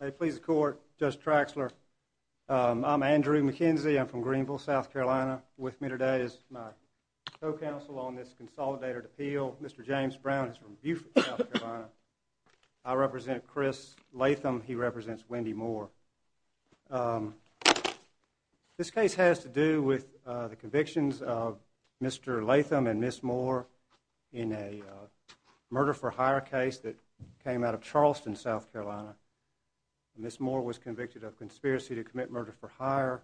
May it please the court, Judge Traxler. I'm Andrew McKenzie. I'm from Greenville, South Carolina. With me today is my co-counsel on this Consolidated Appeal. Mr. James Brown is from Beaufort, South Carolina. I represent Chris Latham. He represents Wendy Moore. This case has to do with the convictions of Mr. Latham and Ms. Moore in a murder-for-hire case that came out of Charleston, South Carolina. Ms. Moore was convicted of conspiracy to commit murder-for-hire,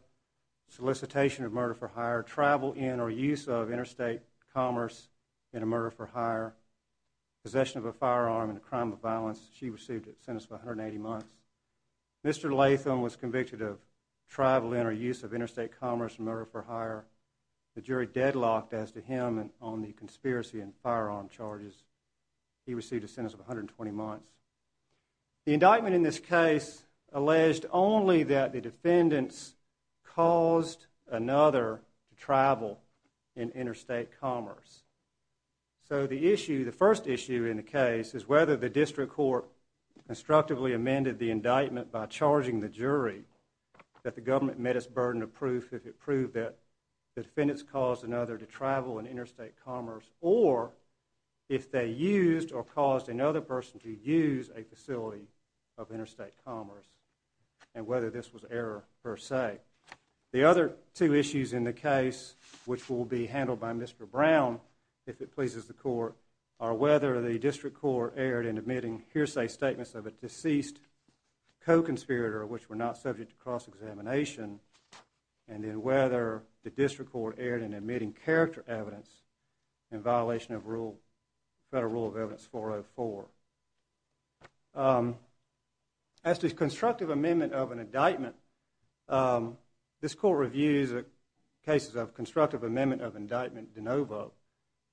solicitation of murder-for-hire, travel in or use of interstate commerce in a murder-for-hire, possession of a firearm in a crime of violence. She received a sentence of 180 months. Mr. Latham was convicted of travel in or use of interstate commerce in a murder-for-hire. The jury deadlocked as to him on the conspiracy and firearm charges. He received a sentence of 120 months. The indictment in this case alleged only that the defendants caused another to travel in interstate commerce. So the issue, the first issue in the case is whether the district court constructively amended the indictment by charging the jury that the government met its burden of proof if it proved that the defendants caused another to travel in interstate commerce or if they used or caused another person to use a facility of interstate commerce and whether this was error per se. The other two issues in the case which will be handled by Mr. Brown if it pleases the court are whether the district court erred in admitting hearsay statements of a deceased co-conspirator which were not subject to cross-examination and then whether the district court erred in admitting character evidence in violation of Federal Rule of Evidence 404. As to constructive amendment of an indictment, this court reviews cases of constructive amendment of indictment de novo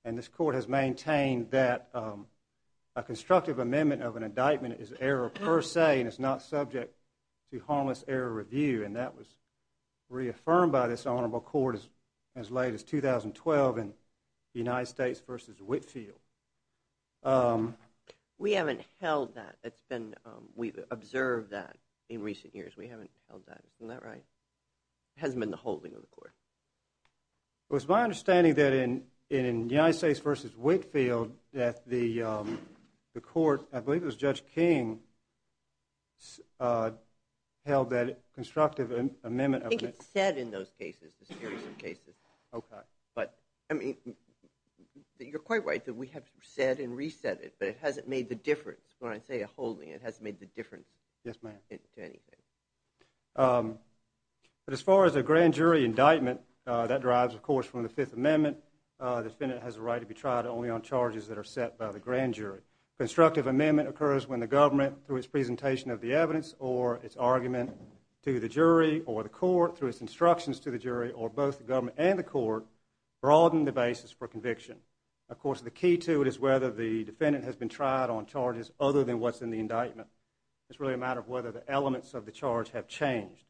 and this court has maintained that a constructive amendment of an indictment is error per se and is not subject to harmless error review and that was reaffirmed by this honorable court as late as 2012 in the United States v. Whitefield. We haven't held that. We've observed that in recent years. We haven't held that. Isn't that right? It hasn't been the holding of the court. It was my understanding that in United States v. Whitefield that the court, I believe it was Judge King, held that constructive amendment of an indictment. You're quite right that we have said and reset it, but it hasn't made the difference. When I say a holding, it hasn't made the difference to anything. But as far as a grand jury indictment, that derives, of course, from the Fifth Amendment. The defendant has a right to be tried only on charges that are set by the grand jury. Constructive amendment occurs when the government, through its presentation of the evidence or its argument to the jury or the court, through its instructions to the jury or both the government and the court, broaden the basis for conviction. Of course, the key to it is whether the defendant has been tried on charges other than what's in the indictment. It's really a matter of whether the elements of the charge have changed.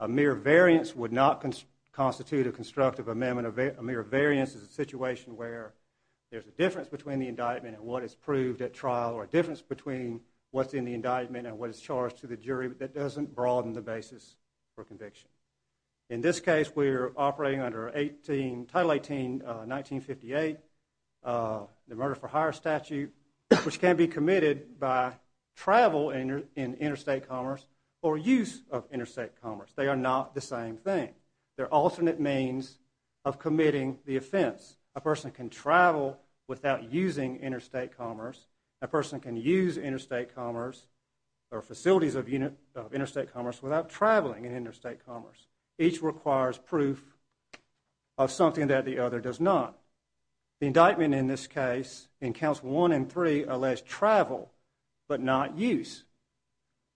A mere variance would not constitute a constructive amendment. A mere variance is a situation where there's a difference between the indictment and what is proved at trial or a difference between what's in the indictment and what is charged to the jury that doesn't broaden the basis for conviction. In this case, we're operating under Title 18, 1958, the Murder for Hire Statute, which can be committed by travel in interstate commerce or use of interstate commerce. They are not the same thing. They're alternate means of committing the offense. A person can travel without using interstate commerce. A person can use interstate commerce or facilities of interstate commerce without traveling in interstate commerce. Each requires proof of something that the other does not. The indictment in this case, in Counts 1 and 3, allows travel but not use.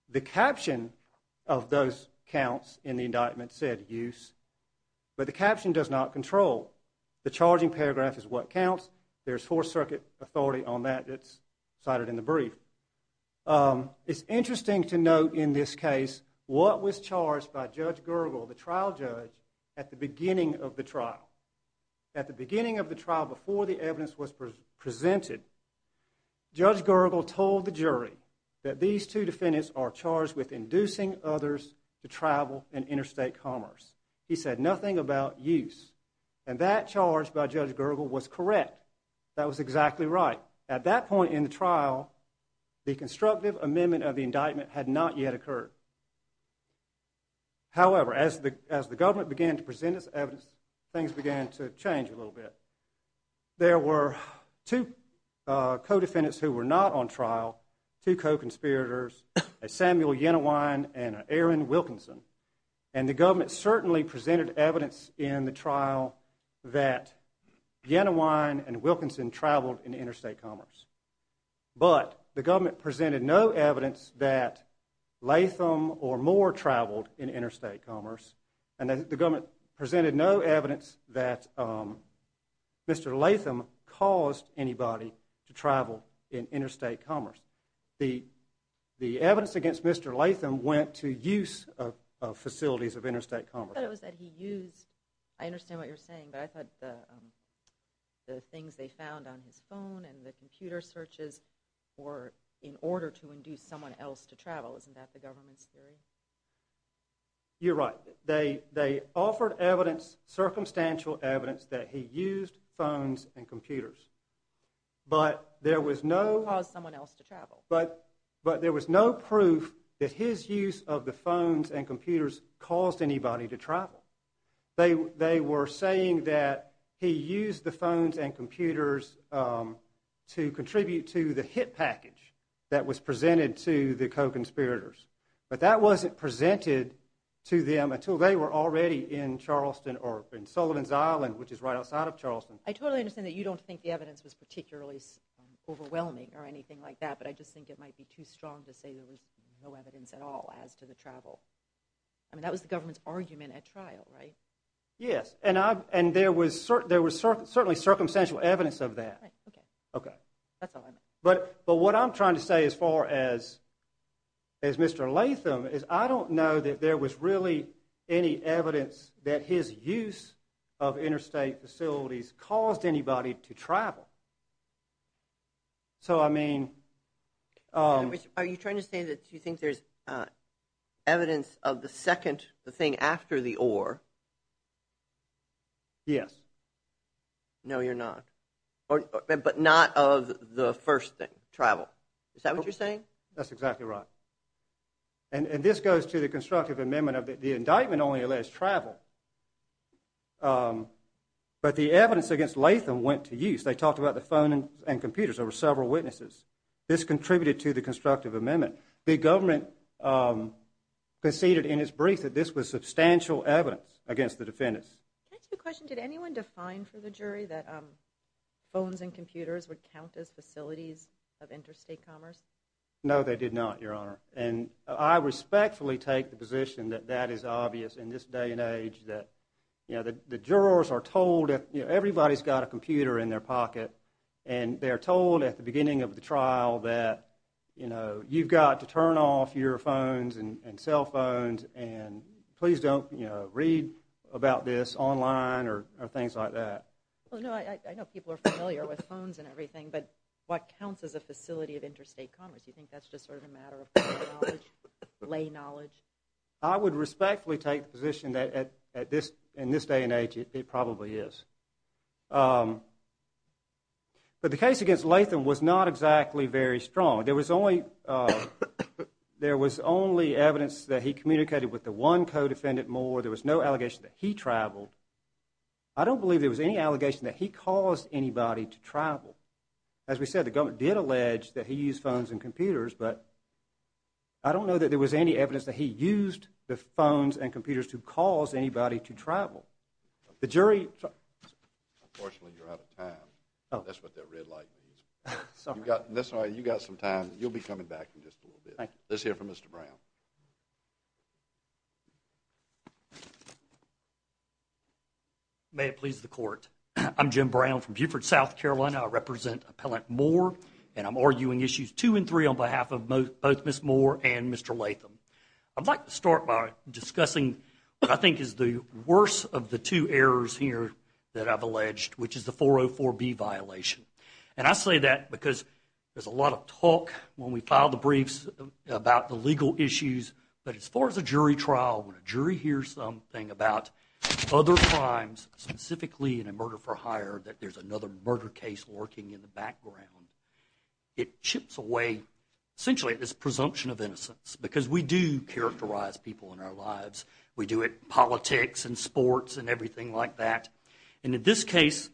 The caption of those counts in the indictment said use, but the caption does not control. The charging paragraph is what counts. There's Fourth Circuit authority on that. It's cited in the brief. It's interesting to note in this case what was charged by Judge Gergel, the trial judge, at the beginning of the trial. At the beginning of the trial before the evidence was presented, Judge Gergel told the jury that these two defendants are charged with inducing others to travel in interstate commerce. He said nothing about use. And that charge by Judge Gergel was correct. That was exactly right. At that point in the trial, the constructive amendment of the indictment had not yet occurred. However, as the government began to present its evidence, things began to change a little bit. There were two co-defendants who were not on trial, two co-conspirators, Samuel Yenawine and Aaron Wilkinson. And the government certainly presented evidence in the trial that Yenawine and Wilkinson traveled in interstate commerce. But the government presented no evidence that Latham or Moore traveled in interstate commerce. And the government presented no evidence that Mr. Latham caused anybody to travel in interstate commerce. The evidence against Mr. Latham went to use of facilities of interstate commerce. I thought it was that he used, I understand what you're saying, but I thought the things they found on his phone and the computer searches were in order to induce someone else to travel. Isn't that the government's theory? You're right. They offered circumstantial evidence that he used phones and computers. But there was no proof that his use of the phones and computers caused anybody to travel. They were saying that he used the phones and computers to contribute to the hit package that was presented to the co-conspirators. But that wasn't presented to them until they were already in Charleston or in Sullivan's Island, which is right outside of Charleston. I totally understand that you don't think the evidence was particularly overwhelming or anything like that, but I just think it might be too strong to say there was no evidence at all as to the travel. I mean, that was the government's argument at trial, right? Yes, and there was certainly circumstantial evidence of that. But what I'm trying to say as far as Mr. Latham is I don't know that there was really any evidence that his use of interstate facilities caused anybody to travel. So, I mean… Are you trying to say that you think there's evidence of the second thing after the or? Yes. No, you're not. But not of the first thing, travel. Is that what you're saying? That's exactly right. And this goes to the constructive amendment of the indictment only allays travel. But the evidence against Latham went to use. They talked about the phone and computers. There were several witnesses. This contributed to the constructive amendment. The government conceded in its brief that this was substantial evidence against the defendants. Can I ask a question? Did anyone define for the jury that phones and computers would count as facilities of interstate commerce? No, they did not, Your Honor. And I respectfully take the position that that is obvious in this day and age that, you know, the jurors are told that everybody's got a computer in their pocket. And they're told at the beginning of the trial that, you know, you've got to turn off your phones and cell phones and please don't, you know, read about this online or things like that. Well, no, I know people are familiar with phones and everything, but what counts as a facility of interstate commerce? You think that's just sort of a matter of lay knowledge? I would respectfully take the position that in this day and age it probably is. But the case against Latham was not exactly very strong. There was only evidence that he communicated with the one co-defendant more. There was no allegation that he traveled. I don't believe there was any allegation that he caused anybody to travel. As we said, the government did allege that he used phones and computers, but I don't know that there was any evidence that he used the phones and computers to cause anybody to travel. Unfortunately, you're out of time. That's what that red light means. You've got some time. You'll be coming back in just a little bit. Let's hear from Mr. Brown. May it please the court. I'm Jim Brown from Beaufort, South Carolina. I represent Appellant Moore and I'm arguing issues two and three on behalf of both Ms. Moore and Mr. Latham. I'd like to start by discussing what I think is the worst of the two errors here that I've alleged, which is the 404B violation. I say that because there's a lot of talk when we file the briefs about the legal issues, but as far as a jury trial, when a jury hears something about other crimes, specifically in a murder for hire, that there's another murder case lurking in the background, it chips away, essentially, at this presumption of innocence. Because we do characterize people in our lives. We do it in politics and sports and everything like that. In this case,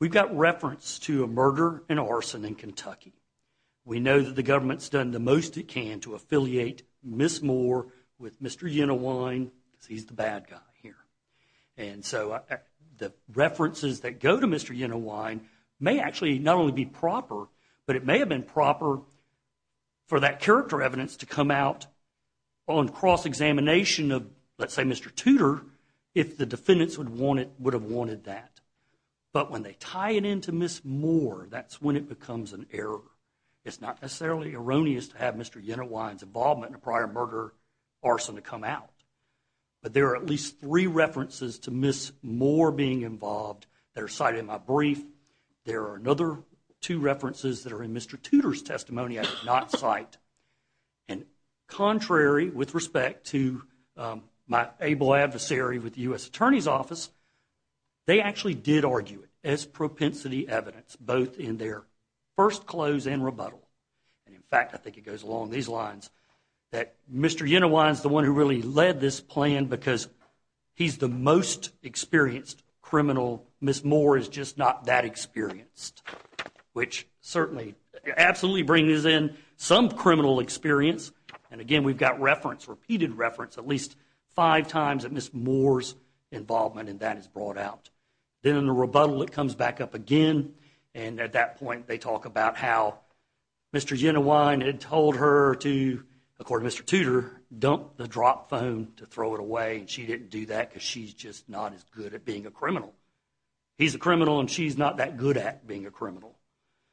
we've got reference to a murder and arson in Kentucky. We know that the government's done the most it can to affiliate Ms. Moore with Mr. Unawine because he's the bad guy here. And so the references that go to Mr. Unawine may actually not only be proper, but it may have been proper for that character evidence to come out on cross-examination of, let's say, Mr. Tudor, if the defendants would have wanted that. But when they tie it into Ms. Moore, that's when it becomes an error. It's not necessarily erroneous to have Mr. Unawine's involvement in a prior murder arson to come out. But there are at least three references to Ms. Moore being involved that are cited in my brief. There are another two references that are in Mr. Tudor's testimony I did not cite. And contrary, with respect to my able adversary with the U.S. Attorney's Office, they actually did argue it as propensity evidence, both in their first close and rebuttal. And in fact, I think it goes along these lines that Mr. Unawine's the one who really led this plan because he's the most experienced criminal. Ms. Moore is just not that experienced, which certainly, absolutely brings in some criminal experience. And again, we've got reference, repeated reference, at least five times of Ms. Moore's involvement, and that is brought out. Then in the rebuttal, it comes back up again. And at that point, they talk about how Mr. Unawine had told her to, according to Mr. Tudor, dump the dropped phone to throw it away. And she didn't do that because she's just not as good at being a criminal. He's a criminal and she's not that good at being a criminal.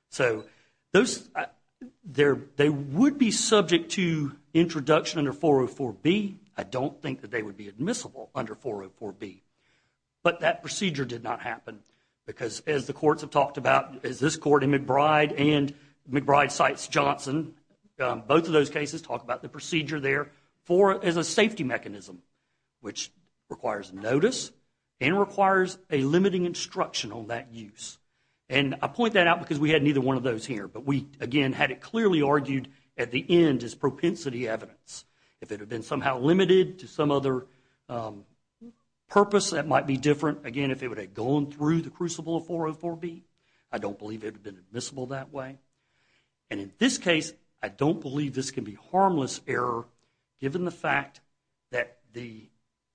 So, they would be subject to introduction under 404B. I don't think that they would be admissible under 404B. But that procedure did not happen because, as the courts have talked about, as this court in McBride and McBride cites Johnson, both of those cases talk about the procedure there as a safety mechanism, which requires notice and requires a limiting instruction on that use. And I point that out because we had neither one of those here. But we, again, had it clearly argued at the end as propensity evidence. If it had been somehow limited to some other purpose, that might be different. Again, if it would have gone through the crucible of 404B, I don't believe it would have been admissible that way. And in this case, I don't believe this can be harmless error given the fact that the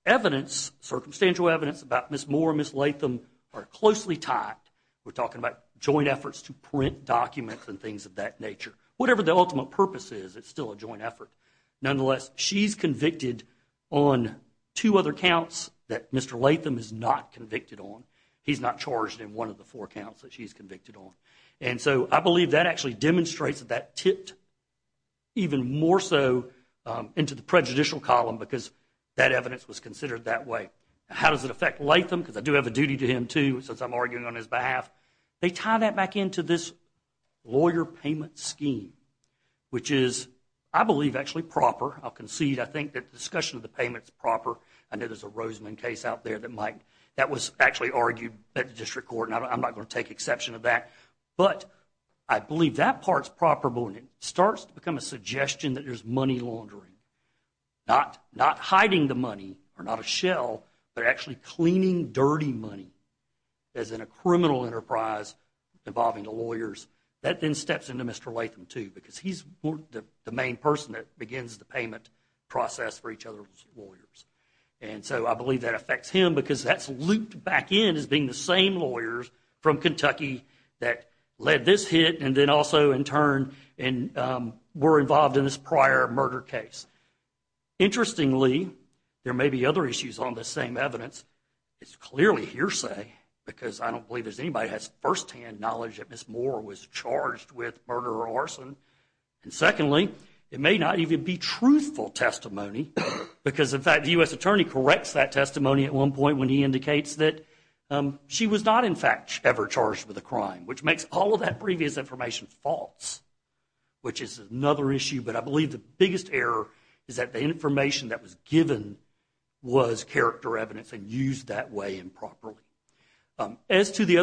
evidence, circumstantial evidence, about Ms. Moore and Ms. Latham are closely tied. We're talking about joint efforts to print documents and things of that nature. Whatever the ultimate purpose is, it's still a joint effort. Nonetheless, she's convicted on two other counts that Mr. Latham is not convicted on. He's not charged in one of the four counts that she's convicted on. And so I believe that actually demonstrates that that tipped even more so into the prejudicial column because that evidence was considered that way. How does it affect Latham? Because I do have a duty to him, too, since I'm arguing on his behalf. They tie that back into this lawyer payment scheme, which is, I believe, actually proper. I'll concede, I think, that the discussion of the payment is proper. I know there's a Roseman case out there that was actually argued at the district court, and I'm not going to take exception to that. But I believe that part's proper, and it starts to become a suggestion that there's money laundering, not hiding the money or not a shell, but actually cleaning dirty money. As in a criminal enterprise involving the lawyers, that then steps into Mr. Latham, too, because he's the main person that begins the payment process for each other's lawyers. And so I believe that affects him because that's looped back in as being the same lawyers from Kentucky that led this hit and then also, in turn, were involved in this prior murder case. Interestingly, there may be other issues on this same evidence. It's clearly hearsay because I don't believe anybody has firsthand knowledge that Ms. Moore was charged with murder or arson. And secondly, it may not even be truthful testimony because, in fact, the U.S. attorney corrects that testimony at one point when he indicates that she was not, in fact, ever charged with a crime, which makes all of that previous information false, which is another issue. But I believe the biggest error is that the information that was given was character evidence and used that way improperly. Didn't you get a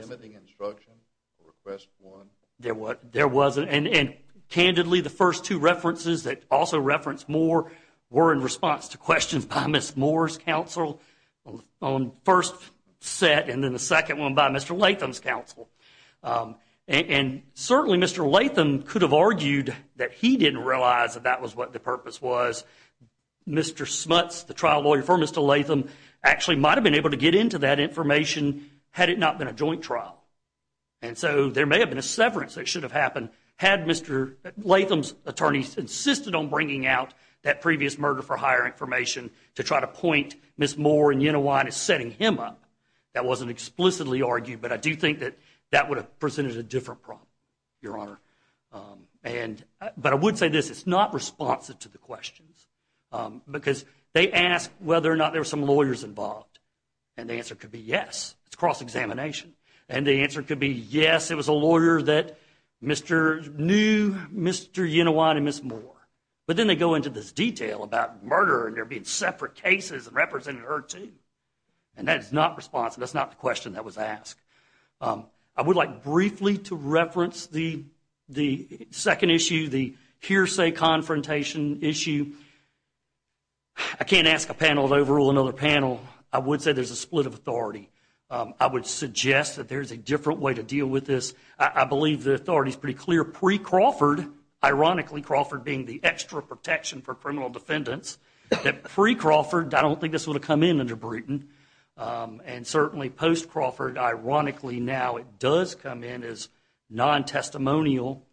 limiting instruction for Request 1? There wasn't. And candidly, the first two references that also reference Moore were in response to questions by Ms. Moore's counsel on the first set and then the second one by Mr. Latham's counsel. And certainly, Mr. Latham could have argued that he didn't realize that that was what the purpose was. Mr. Smuts, the trial lawyer for Mr. Latham, actually might have been able to get into that information had it not been a joint trial. And so there may have been a severance that should have happened had Mr. Latham's attorneys insisted on bringing out that previous murder-for-hire information to try to point Ms. Moore and Yenawine as setting him up. That wasn't explicitly argued, but I do think that that would have presented a different problem, Your Honor. But I would say this. It's not responsive to the questions because they asked whether or not there were some lawyers involved. And the answer could be yes. It's cross-examination. And the answer could be yes, it was a lawyer that knew Mr. Yenawine and Ms. Moore. But then they go into this detail about murder and there being separate cases representing her, too. And that's not responsive. That's not the question that was asked. I would like briefly to reference the second issue, the hearsay confrontation issue. I can't ask a panel to overrule another panel. I would say there's a split of authority. I would suggest that there's a different way to deal with this. I believe the authority is pretty clear. Pre-Crawford, ironically Crawford being the extra protection for criminal defendants, that pre-Crawford, I don't think this would have come in under Brewton. And certainly post-Crawford, ironically now it does come in as non-testimonial.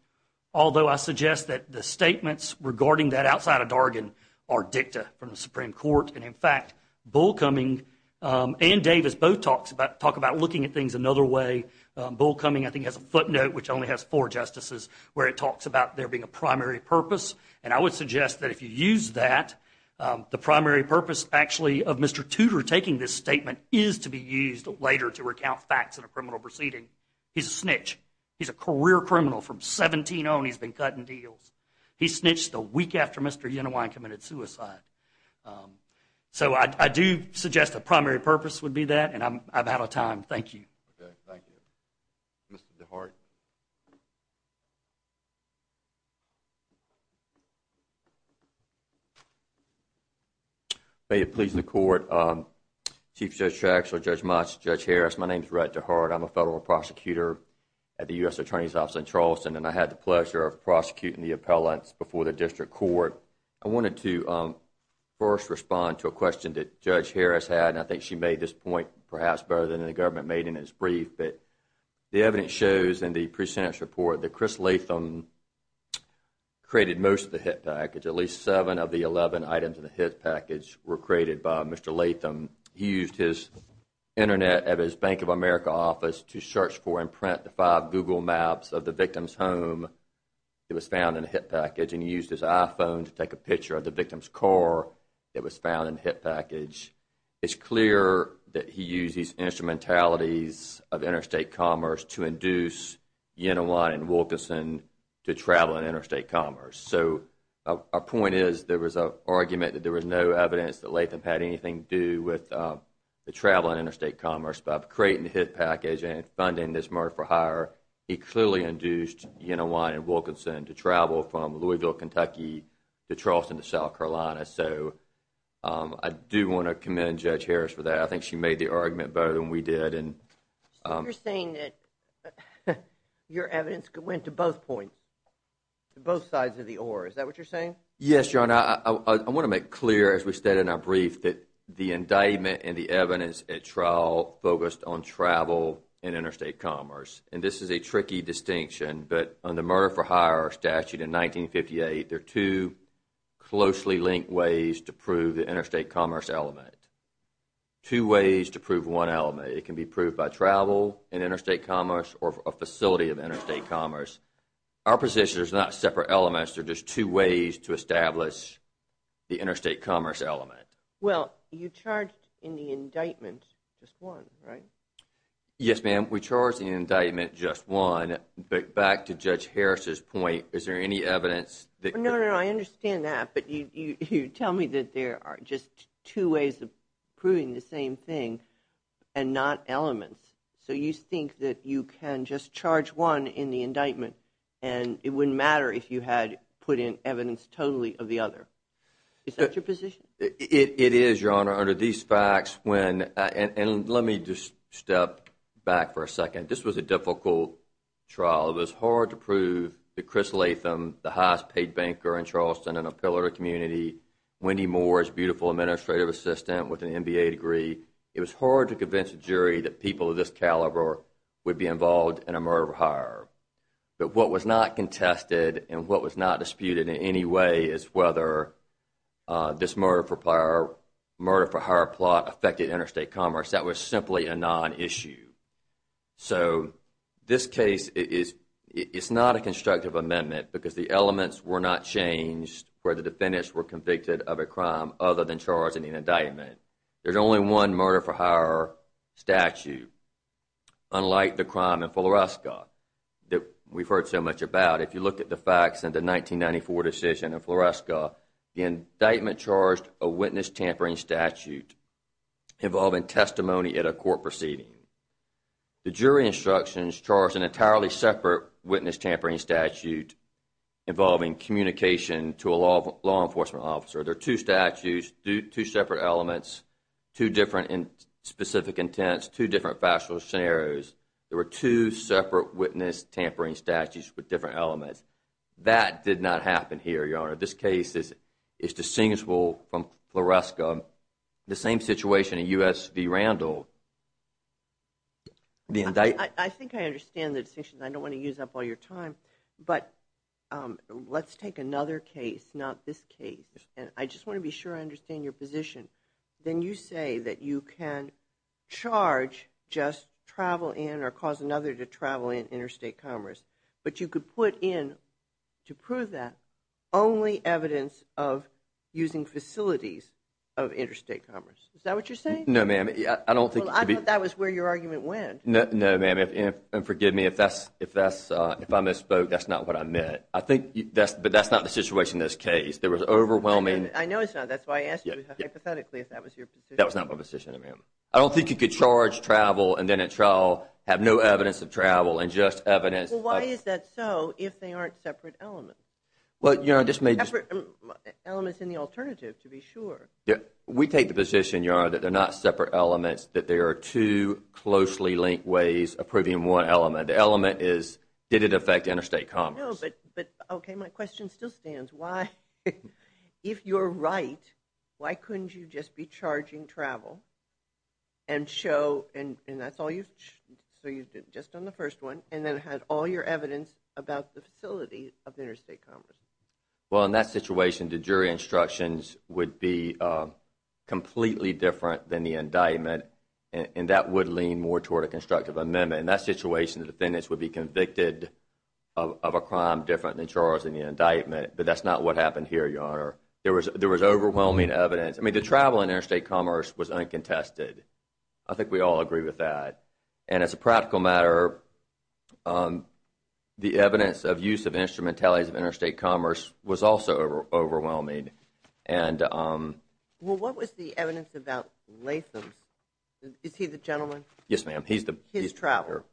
Although I suggest that the statements regarding that outside of Dargan are dicta from the Supreme Court. And, in fact, Bullcoming and Davis both talk about looking at things another way. Bullcoming, I think, has a footnote, which only has four justices, where it talks about there being a primary purpose. And I would suggest that if you use that, the primary purpose actually of Mr. Tudor taking this statement is to be used later to recount facts in a criminal proceeding. He's a snitch. He's a career criminal. From 17 on, he's been cutting deals. He snitched the week after Mr. Unawine committed suicide. So I do suggest the primary purpose would be that. And I'm out of time. Thank you. Okay. Thank you. Mr. DeHart? May it please the Court. Chief Judge Trachsel, Judge Motts, Judge Harris, my name is Rhett DeHart. I'm a federal prosecutor at the U.S. Attorney's Office in Charleston. And I had the pleasure of prosecuting the appellants before the District Court. I wanted to first respond to a question that Judge Harris had. And I think she made this point perhaps better than the government made in its brief. The evidence shows in the pre-sentence report that Chris Latham created most of the hit package. At least seven of the 11 items in the hit package were created by Mr. Latham. He used his Internet at his Bank of America office to search for and print the five Google Maps of the victim's home. It was found in the hit package. And he used his iPhone to take a picture of the victim's car. It was found in the hit package. It's clear that he used his instrumentalities of interstate commerce to induce Yenawin and Wilkinson to travel in interstate commerce. So our point is there was an argument that there was no evidence that Latham had anything to do with the travel in interstate commerce. But creating the hit package and funding this murder for hire, he clearly induced Yenawin and Wilkinson to travel from Louisville, Kentucky, to Charleston, to South Carolina. So I do want to commend Judge Harris for that. I think she made the argument better than we did. So you're saying that your evidence went to both points, both sides of the oar. Is that what you're saying? Yes, Your Honor. I want to make clear, as we said in our brief, that the indictment and the evidence at trial focused on travel in interstate commerce. And this is a tricky distinction. But under the murder for hire statute in 1958, there are two closely linked ways to prove the interstate commerce element. Two ways to prove one element. It can be proved by travel in interstate commerce or a facility of interstate commerce. Our position is not separate elements. There are just two ways to establish the interstate commerce element. Well, you charged in the indictment just one, right? Yes, ma'am. We charged in the indictment just one. But back to Judge Harris's point, is there any evidence? No, no, I understand that. But you tell me that there are just two ways of proving the same thing and not elements. So you think that you can just charge one in the indictment and it wouldn't matter if you had put in evidence totally of the other. Is that your position? It is, Your Honor. And let me just step back for a second. This was a difficult trial. It was hard to prove that Chris Latham, the highest paid banker in Charleston and a pillar of the community, Wendy Moore's beautiful administrative assistant with an MBA degree, it was hard to convince a jury that people of this caliber would be involved in a murder for hire. But what was not contested and what was not disputed in any way is whether this murder for hire plot affected interstate commerce. That was simply a non-issue. So this case is not a constructive amendment because the elements were not changed where the defendants were convicted of a crime other than charging an indictment. There's only one murder for hire statute, unlike the crime in Floresca that we've heard so much about. If you look at the facts in the 1994 decision in Floresca, the indictment charged a witness tampering statute involving testimony at a court proceeding. The jury instructions charged an entirely separate witness tampering statute involving communication to a law enforcement officer. There are two statutes, two separate elements, two different specific intents, two different factual scenarios. There were two separate witness tampering statutes with different elements. That did not happen here, Your Honor. This case is distinguishable from Floresca. The same situation in U.S. v. Randall. I think I understand the distinction. I don't want to use up all your time. But let's take another case, not this case. And I just want to be sure I understand your position. Then you say that you can charge just travel in or cause another to travel in interstate commerce. But you could put in, to prove that, only evidence of using facilities of interstate commerce. Is that what you're saying? No, ma'am. I don't think it could be. I thought that was where your argument went. No, ma'am. And forgive me if I misspoke. That's not what I meant. But that's not the situation in this case. There was overwhelming. I know it's not. That's why I asked you hypothetically if that was your position. That was not my position, ma'am. I don't think you could charge travel and then at trial have no evidence of travel and just evidence. Well, why is that so if they aren't separate elements? Well, Your Honor, this may just be. Separate elements in the alternative, to be sure. We take the position, Your Honor, that they're not separate elements. That there are two closely linked ways of proving one element. The element is, did it affect interstate commerce? No, but, okay, my question still stands. Why, if you're right, why couldn't you just be charging travel and show, and that's all you, so you did just on the first one and then had all your evidence about the facility of interstate commerce? Well, in that situation, the jury instructions would be completely different than the indictment, and that would lean more toward a constructive amendment. In that situation, the defendants would be convicted of a crime different than charged in the indictment, but that's not what happened here, Your Honor. There was overwhelming evidence. I mean, the travel in interstate commerce was uncontested. I think we all agree with that. And as a practical matter, the evidence of use of instrumentalities of interstate commerce was also overwhelming. Well, what was the evidence about Latham's? Is he the gentleman? Yes, ma'am. His travel.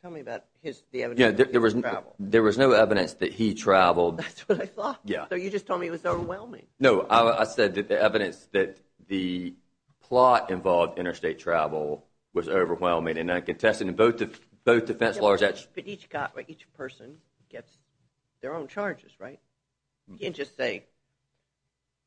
Tell me about the evidence of his travel. There was no evidence that he traveled. That's what I thought. So you just told me it was overwhelming. No, I said that the evidence that the plot involved interstate travel was overwhelming and uncontested, and both defense lawyers actually… But each person gets their own charges, right? You can't just say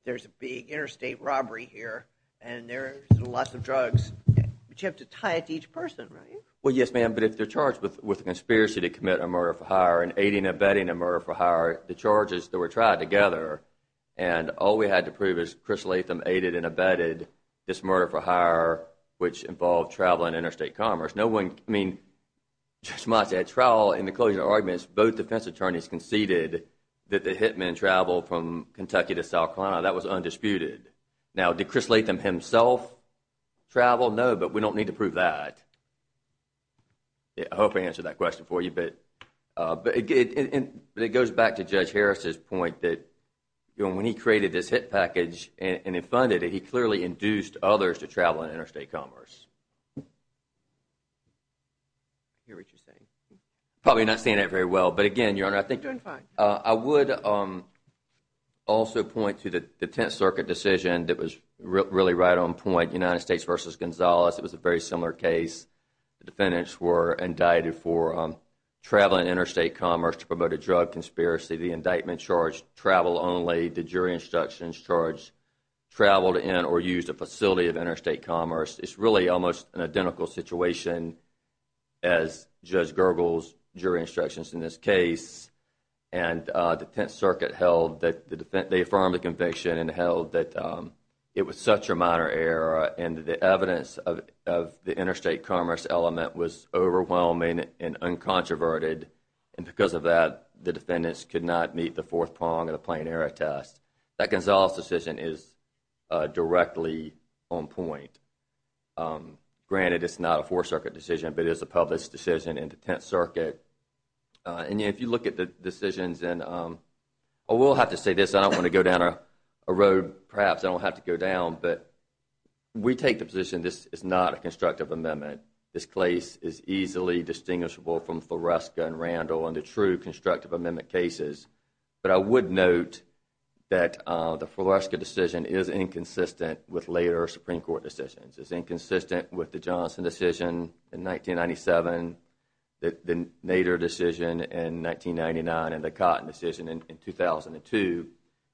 there's a big interstate robbery here and there's lots of drugs, but you have to tie it to each person, right? Well, yes, ma'am, but if they're charged with a conspiracy to commit a murder for hire and aiding and abetting a murder for hire, the charges that were tried together and all we had to prove is Chris Latham aided and abetted this murder for hire, which involved travel and interstate commerce. No one… I mean, just as much as a trial in the closing arguments, both defense attorneys conceded that the hitmen traveled from Kentucky to South Carolina. That was undisputed. Now, did Chris Latham himself travel? No, but we don't need to prove that. I hope I answered that question for you, but it goes back to Judge Harris's point that when he created this hit package and then funded it, he clearly induced others to travel and interstate commerce. Probably not saying that very well, but again, Your Honor, I think… You're doing fine. I would also point to the Tenth Circuit decision that was really right on point, United States v. Gonzalez. It was a very similar case. The defendants were indicted for traveling interstate commerce to promote a drug conspiracy. The indictment charged travel only. The jury instructions charged traveled in or used a facility of interstate commerce. It's really almost an identical situation as Judge Gergel's jury instructions in this case. And the Tenth Circuit held that… They affirmed the conviction and held that it was such a minor error and the evidence of the interstate commerce element was overwhelming and uncontroverted. And because of that, the defendants could not meet the fourth prong of the plain error test. That Gonzalez decision is directly on point. Granted, it's not a Fourth Circuit decision, but it is a public decision in the Tenth Circuit. And if you look at the decisions and… I will have to say this. I don't want to go down a road perhaps I don't have to go down, but we take the position this is not a constructive amendment. This case is easily distinguishable from Floresca and Randall and the true constructive amendment cases. But I would note that the Floresca decision is inconsistent with later Supreme Court decisions. It's inconsistent with the Johnson decision in 1997, the Nader decision in 1999, and the Cotton decision in 2002.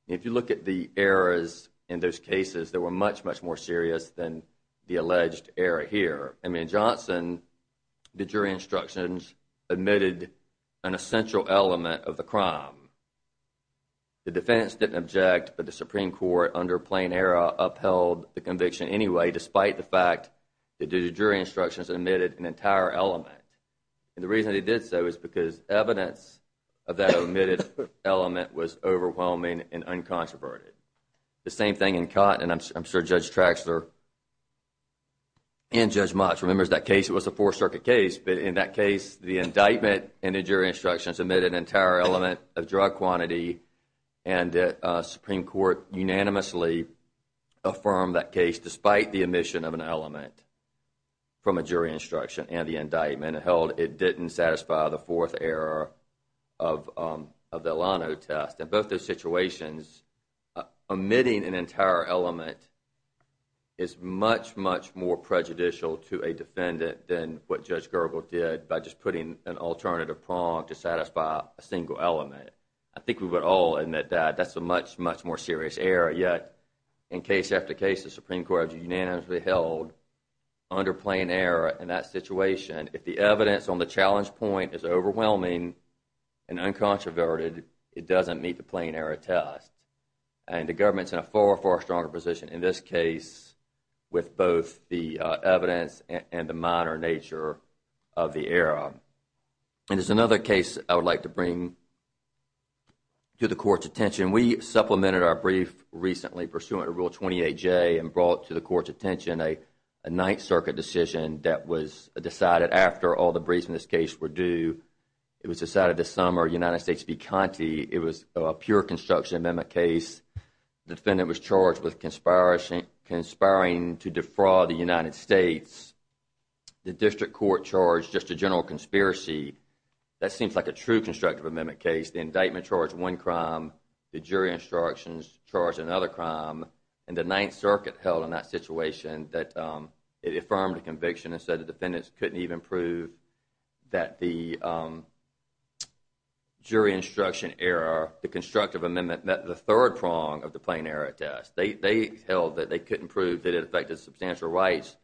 If you look at the errors in those cases, they were much, much more serious than the alleged error here. In Johnson, the jury instructions admitted an essential element of the crime. The defendants didn't object, but the Supreme Court under plain error upheld the conviction anyway despite the fact that the jury instructions admitted an entire element. And the reason they did so is because evidence of that omitted element was overwhelming and uncontroverted. The same thing in Cotton, and I'm sure Judge Traxler and Judge Motz remember that case. It was a Fourth Circuit case, but in that case, the indictment and the jury instructions admitted an entire element of drug quantity, and the Supreme Court unanimously affirmed that case despite the omission of an element from a jury instruction and the indictment. It held it didn't satisfy the fourth error of the Alano test. In both those situations, omitting an entire element is much, much more prejudicial to a defendant than what Judge Gergel did by just putting an alternative prong to satisfy a single element. I think we would all admit that that's a much, much more serious error, yet in case after case, the Supreme Court has unanimously held under plain error in that situation. If the evidence on the challenge point is overwhelming and uncontroverted, it doesn't meet the plain error test. And the government's in a far, far stronger position in this case with both the evidence and the minor nature of the error. And there's another case I would like to bring to the Court's attention. We supplemented our brief recently pursuant to Rule 28J and brought to the Court's attention a Ninth Circuit decision that was decided after all the briefs in this case were due. It was decided this summer, United States v. Conte, it was a pure construction amendment case. The defendant was charged with conspiring to defraud the United States. The district court charged just a general conspiracy. That seems like a true constructive amendment case. The indictment charged one crime. The jury instructions charged another crime. And the Ninth Circuit held in that situation that it affirmed the conviction and said the defendants couldn't even prove that the jury instruction error, the constructive amendment, met the third prong of the plain error test. They held that they couldn't prove that it affected substantial rights,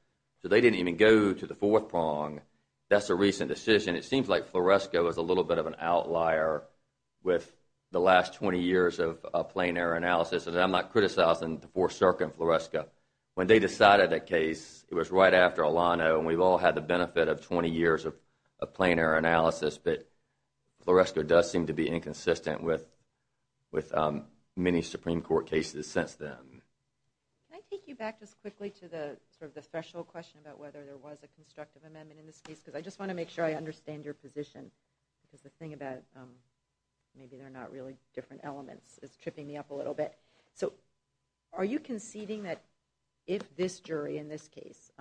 so they didn't even go to the fourth prong. That's a recent decision. It seems like Floresco is a little bit of an outlier with the last 20 years of plain error analysis, and I'm not criticizing the Fourth Circuit and Floresco. When they decided that case, it was right after Alano, and we've all had the benefit of 20 years of plain error analysis, but Floresco does seem to be inconsistent with many Supreme Court cases since then. Can I take you back just quickly to sort of the threshold question about whether there was a constructive amendment in this case? Because I just want to make sure I understand your position, because the thing about maybe they're not really different elements is tripping me up a little bit. So are you conceding that if this jury in this case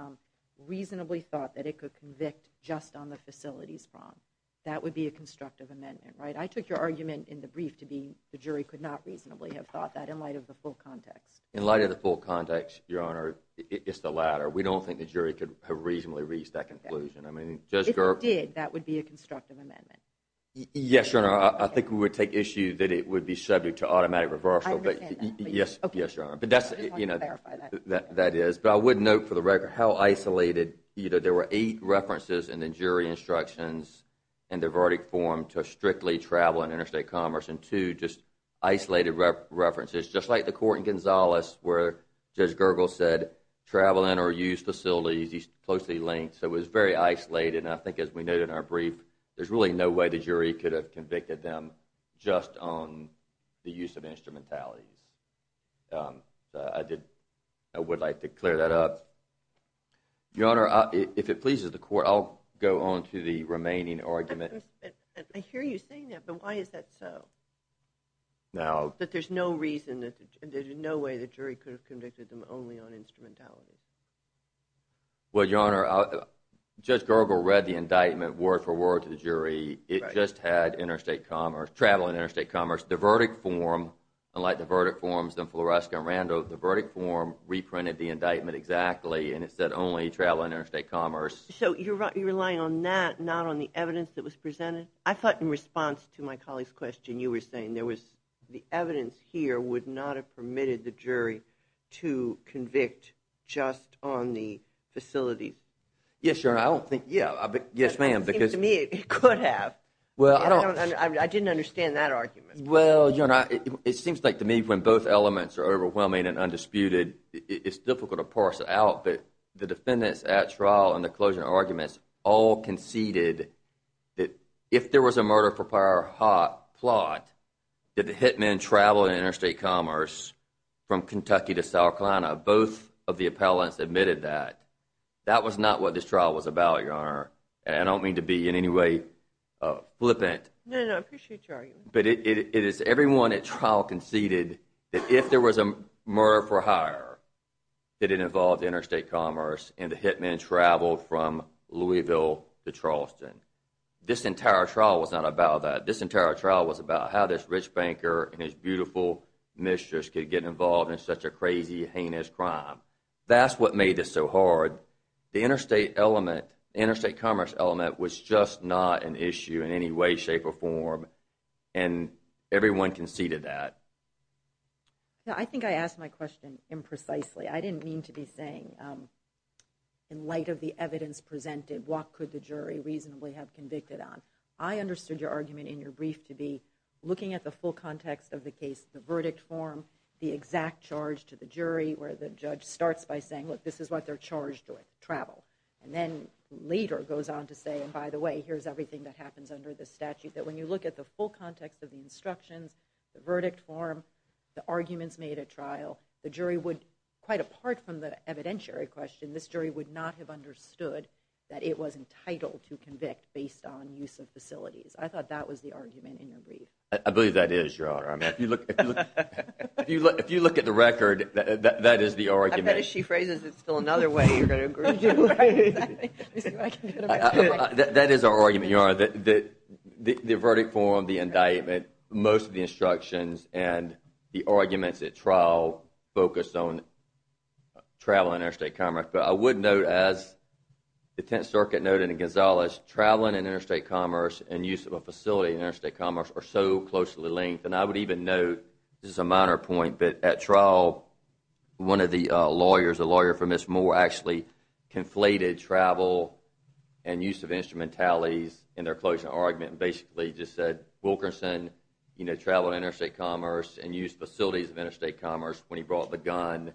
reasonably thought that it could convict just on the facilities prong, that would be a constructive amendment, right? I took your argument in the brief to be the jury could not reasonably have thought that in light of the full context. In light of the full context, Your Honor, it's the latter. We don't think the jury could have reasonably reached that conclusion. If it did, that would be a constructive amendment. Yes, Your Honor. I think we would take issue that it would be subject to automatic reversal. I understand that. Yes, Your Honor. I just wanted to clarify that. That is. But I would note for the record how isolated either there were eight references in the jury instructions in the verdict form to strictly travel and interstate commerce and two just isolated references, just like the court in Gonzales where Judge Gergel said travel in or use facilities is closely linked. So it was very isolated, and I think as we noted in our brief, there's really no way the jury could have convicted them just on the use of instrumentalities. I would like to clear that up. Your Honor, if it pleases the court, I'll go on to the remaining argument. I hear you saying that, but why is that so? That there's no way the jury could have convicted them only on instrumentalities. Well, Your Honor, Judge Gergel read the indictment word for word to the jury. It just had travel and interstate commerce. The verdict form, unlike the verdict forms in Floresca and Rando, the verdict form reprinted the indictment exactly, and it said only travel and interstate commerce. So you're relying on that, not on the evidence that was presented? I thought in response to my colleague's question, you were saying the evidence here would not have permitted the jury to convict just on the facilities. Yes, Your Honor, I don't think—yes, ma'am. It seems to me it could have. I didn't understand that argument. Well, Your Honor, it seems like to me when both elements are overwhelming and undisputed, it's difficult to parse out that the defendants at trial all conceded that if there was a murder for hire plot, did the hitmen travel and interstate commerce from Kentucky to South Carolina? Both of the appellants admitted that. That was not what this trial was about, Your Honor, and I don't mean to be in any way flippant. No, no, I appreciate your argument. But it is everyone at trial conceded that if there was a murder for hire, that it involved interstate commerce, and the hitmen traveled from Louisville to Charleston. This entire trial was not about that. This entire trial was about how this rich banker and his beautiful mistress could get involved in such a crazy, heinous crime. That's what made this so hard. The interstate element, interstate commerce element, was just not an issue in any way, shape, or form, and everyone conceded that. I think I asked my question imprecisely. I didn't mean to be saying, in light of the evidence presented, what could the jury reasonably have convicted on. I understood your argument in your brief to be looking at the full context of the case, the verdict form, the exact charge to the jury, where the judge starts by saying, look, this is what they're charged with, travel. And then later goes on to say, and by the way, here's everything that happens under the statute, that when you look at the full context of the instructions, the verdict form, the arguments made at trial, the jury would, quite apart from the evidentiary question, this jury would not have understood that it was entitled to convict based on use of facilities. I thought that was the argument in your brief. I believe that is, Your Honor. I mean, if you look at the record, that is the argument. I bet if she phrases it still another way, you're going to agree with her. That is our argument, Your Honor, that the verdict form, the indictment, most of the instructions and the arguments at trial focus on travel and interstate commerce. But I would note, as the Tenth Circuit noted in Gonzales, traveling and interstate commerce and use of a facility in interstate commerce are so closely linked. And I would even note, this is a minor point, but at trial one of the lawyers, a lawyer for Ms. Moore, actually conflated travel and use of instrumentalities in their closing argument and basically just said, Wilkerson traveled interstate commerce and used facilities of interstate commerce when he brought the gun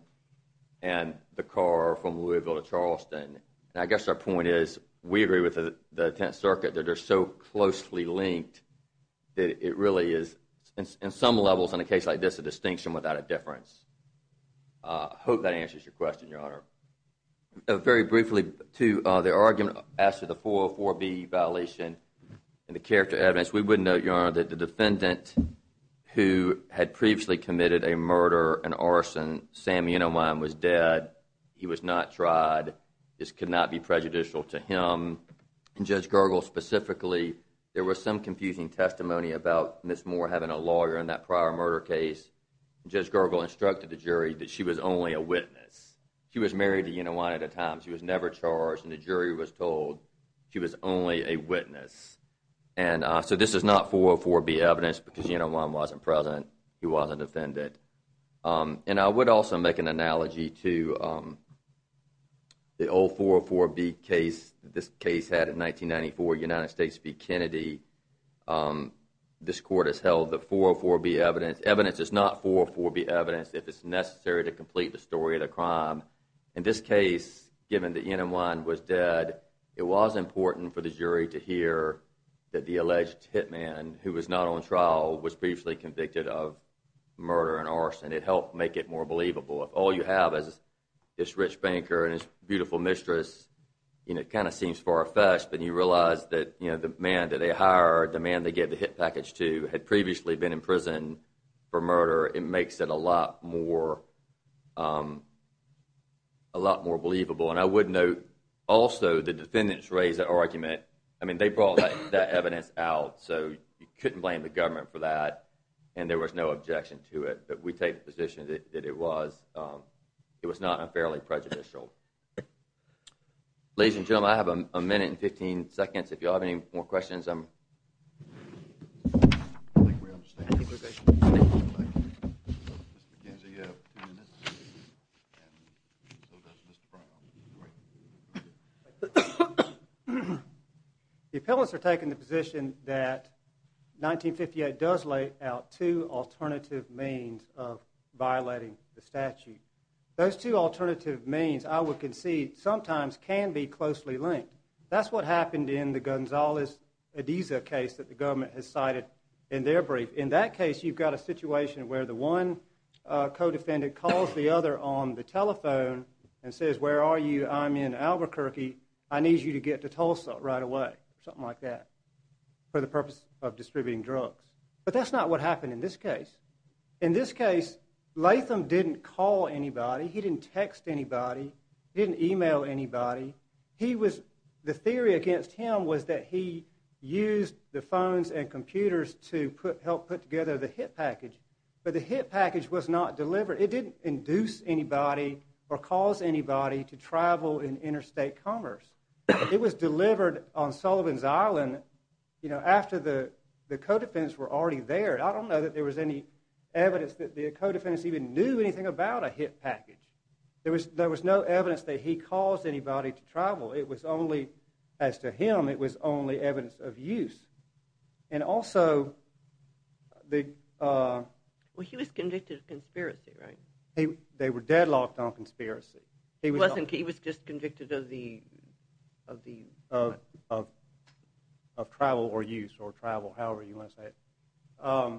and the car from Louisville to Charleston. And I guess our point is we agree with the Tenth Circuit that they're so closely linked that it really is, in some levels, in a case like this, a distinction without a difference. I hope that answers your question, Your Honor. Very briefly, too, the argument after the 404B violation and the character evidence, we would note, Your Honor, that the defendant who had previously committed a murder, an arson, Sam Unermeyer was dead. He was not tried. This could not be prejudicial to him. And Judge Gergel specifically, there was some confusing testimony about Ms. Moore having a lawyer in that prior murder case. Judge Gergel instructed the jury that she was only a witness. She was married to Unermeyer at the time. She was never charged. And the jury was told she was only a witness. And so this is not 404B evidence because Unermeyer wasn't present. He wasn't offended. And I would also make an analogy to the old 404B case this case had in 1994, United States v. Kennedy. This court has held the 404B evidence. Evidence is not 404B evidence if it's necessary to complete the story of the crime. In this case, given that Yen-On-Wan was dead, it was important for the jury to hear that the alleged hitman, who was not on trial, was previously convicted of murder and arson. It helped make it more believable. If all you have is this rich banker and his beautiful mistress, it kind of seems far-fetched, but you realize that the man that they hired, the man they gave the hit package to, had previously been in prison for murder. It makes it a lot more believable. And I would note also the defendants raised that argument. I mean, they brought that evidence out, so you couldn't blame the government for that, and there was no objection to it. But we take the position that it was not unfairly prejudicial. Ladies and gentlemen, I have a minute and 15 seconds. If you all have any more questions, I'm... I think we understand... The appellants are taking the position that 1958 does lay out two alternative means of violating the statute. Those two alternative means, I would concede, sometimes can be closely linked. That's what happened in the Gonzalez-Ediza case that the government has cited in their brief. In that case, you've got a situation where the one co-defendant calls the other on the telephone and says, where are you? I'm in Albuquerque. I need you to get to Tulsa right away, something like that, for the purpose of distributing drugs. But that's not what happened in this case. In this case, Latham didn't call anybody. He didn't text anybody. He didn't email anybody. The theory against him was that he used the phones and computers to help put together the hit package. But the hit package was not delivered. It didn't induce anybody or cause anybody to travel in interstate commerce. It was delivered on Sullivan's Island after the co-defendants were already there. I don't know that there was any evidence that the co-defendants even knew anything about a hit package. There was no evidence that he caused anybody to travel. It was only, as to him, it was only evidence of use. And also... Well, he was convicted of conspiracy, right? They were deadlocked on conspiracy. He was just convicted of the... Of travel or use or travel, however you want to say it. A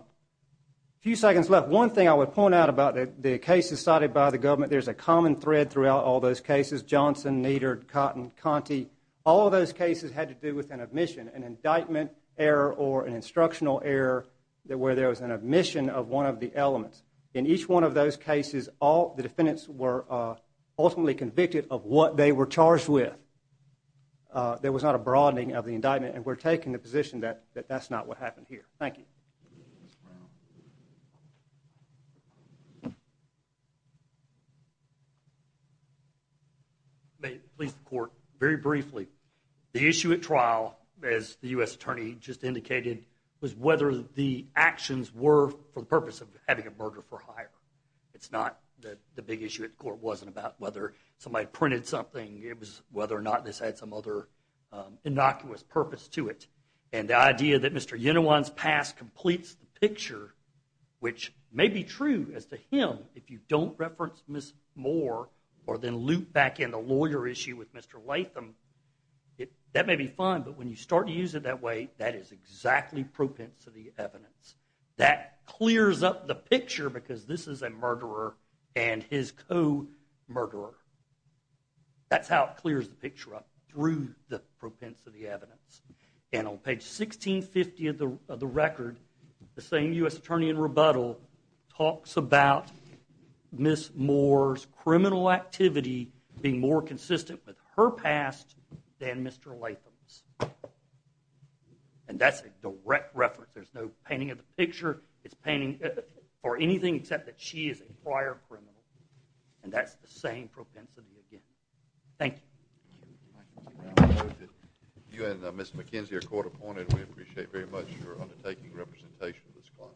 few seconds left. One thing I would point out about the cases cited by the government, there's a common thread throughout all those cases, Johnson, Nieder, Cotton, Conte. All of those cases had to do with an admission, an indictment error or an instructional error where there was an admission of one of the elements. In each one of those cases, all the defendants were ultimately convicted of what they were charged with. There was not a broadening of the indictment, and we're taking the position that that's not what happened here. Thank you. May it please the court, very briefly, the issue at trial, as the U.S. attorney just indicated, was whether the actions were for the purpose of having a murder for hire. It's not that the big issue at court wasn't about whether somebody printed something. It was whether or not this had some other innocuous purpose to it. And the idea that Mr. Unawan's past completes the picture, which may be true as to him, if you don't reference Miss Moore or then loop back in the lawyer issue with Mr. Latham, that may be fine, but when you start to use it that way, that is exactly propensity evidence. That clears up the picture because this is a murderer and his co-murderer. That's how it clears the picture up, through the propensity evidence. And on page 1650 of the record, the same U.S. attorney in rebuttal talks about Miss Moore's criminal activity being more consistent with her past than Mr. Latham's. And that's a direct reference. There's no painting of the picture. It's painting for anything except that she is a prior criminal. And that's the same propensity again. Thank you. You and Miss McKenzie are court-appointed. We appreciate very much your undertaking the representation of this client.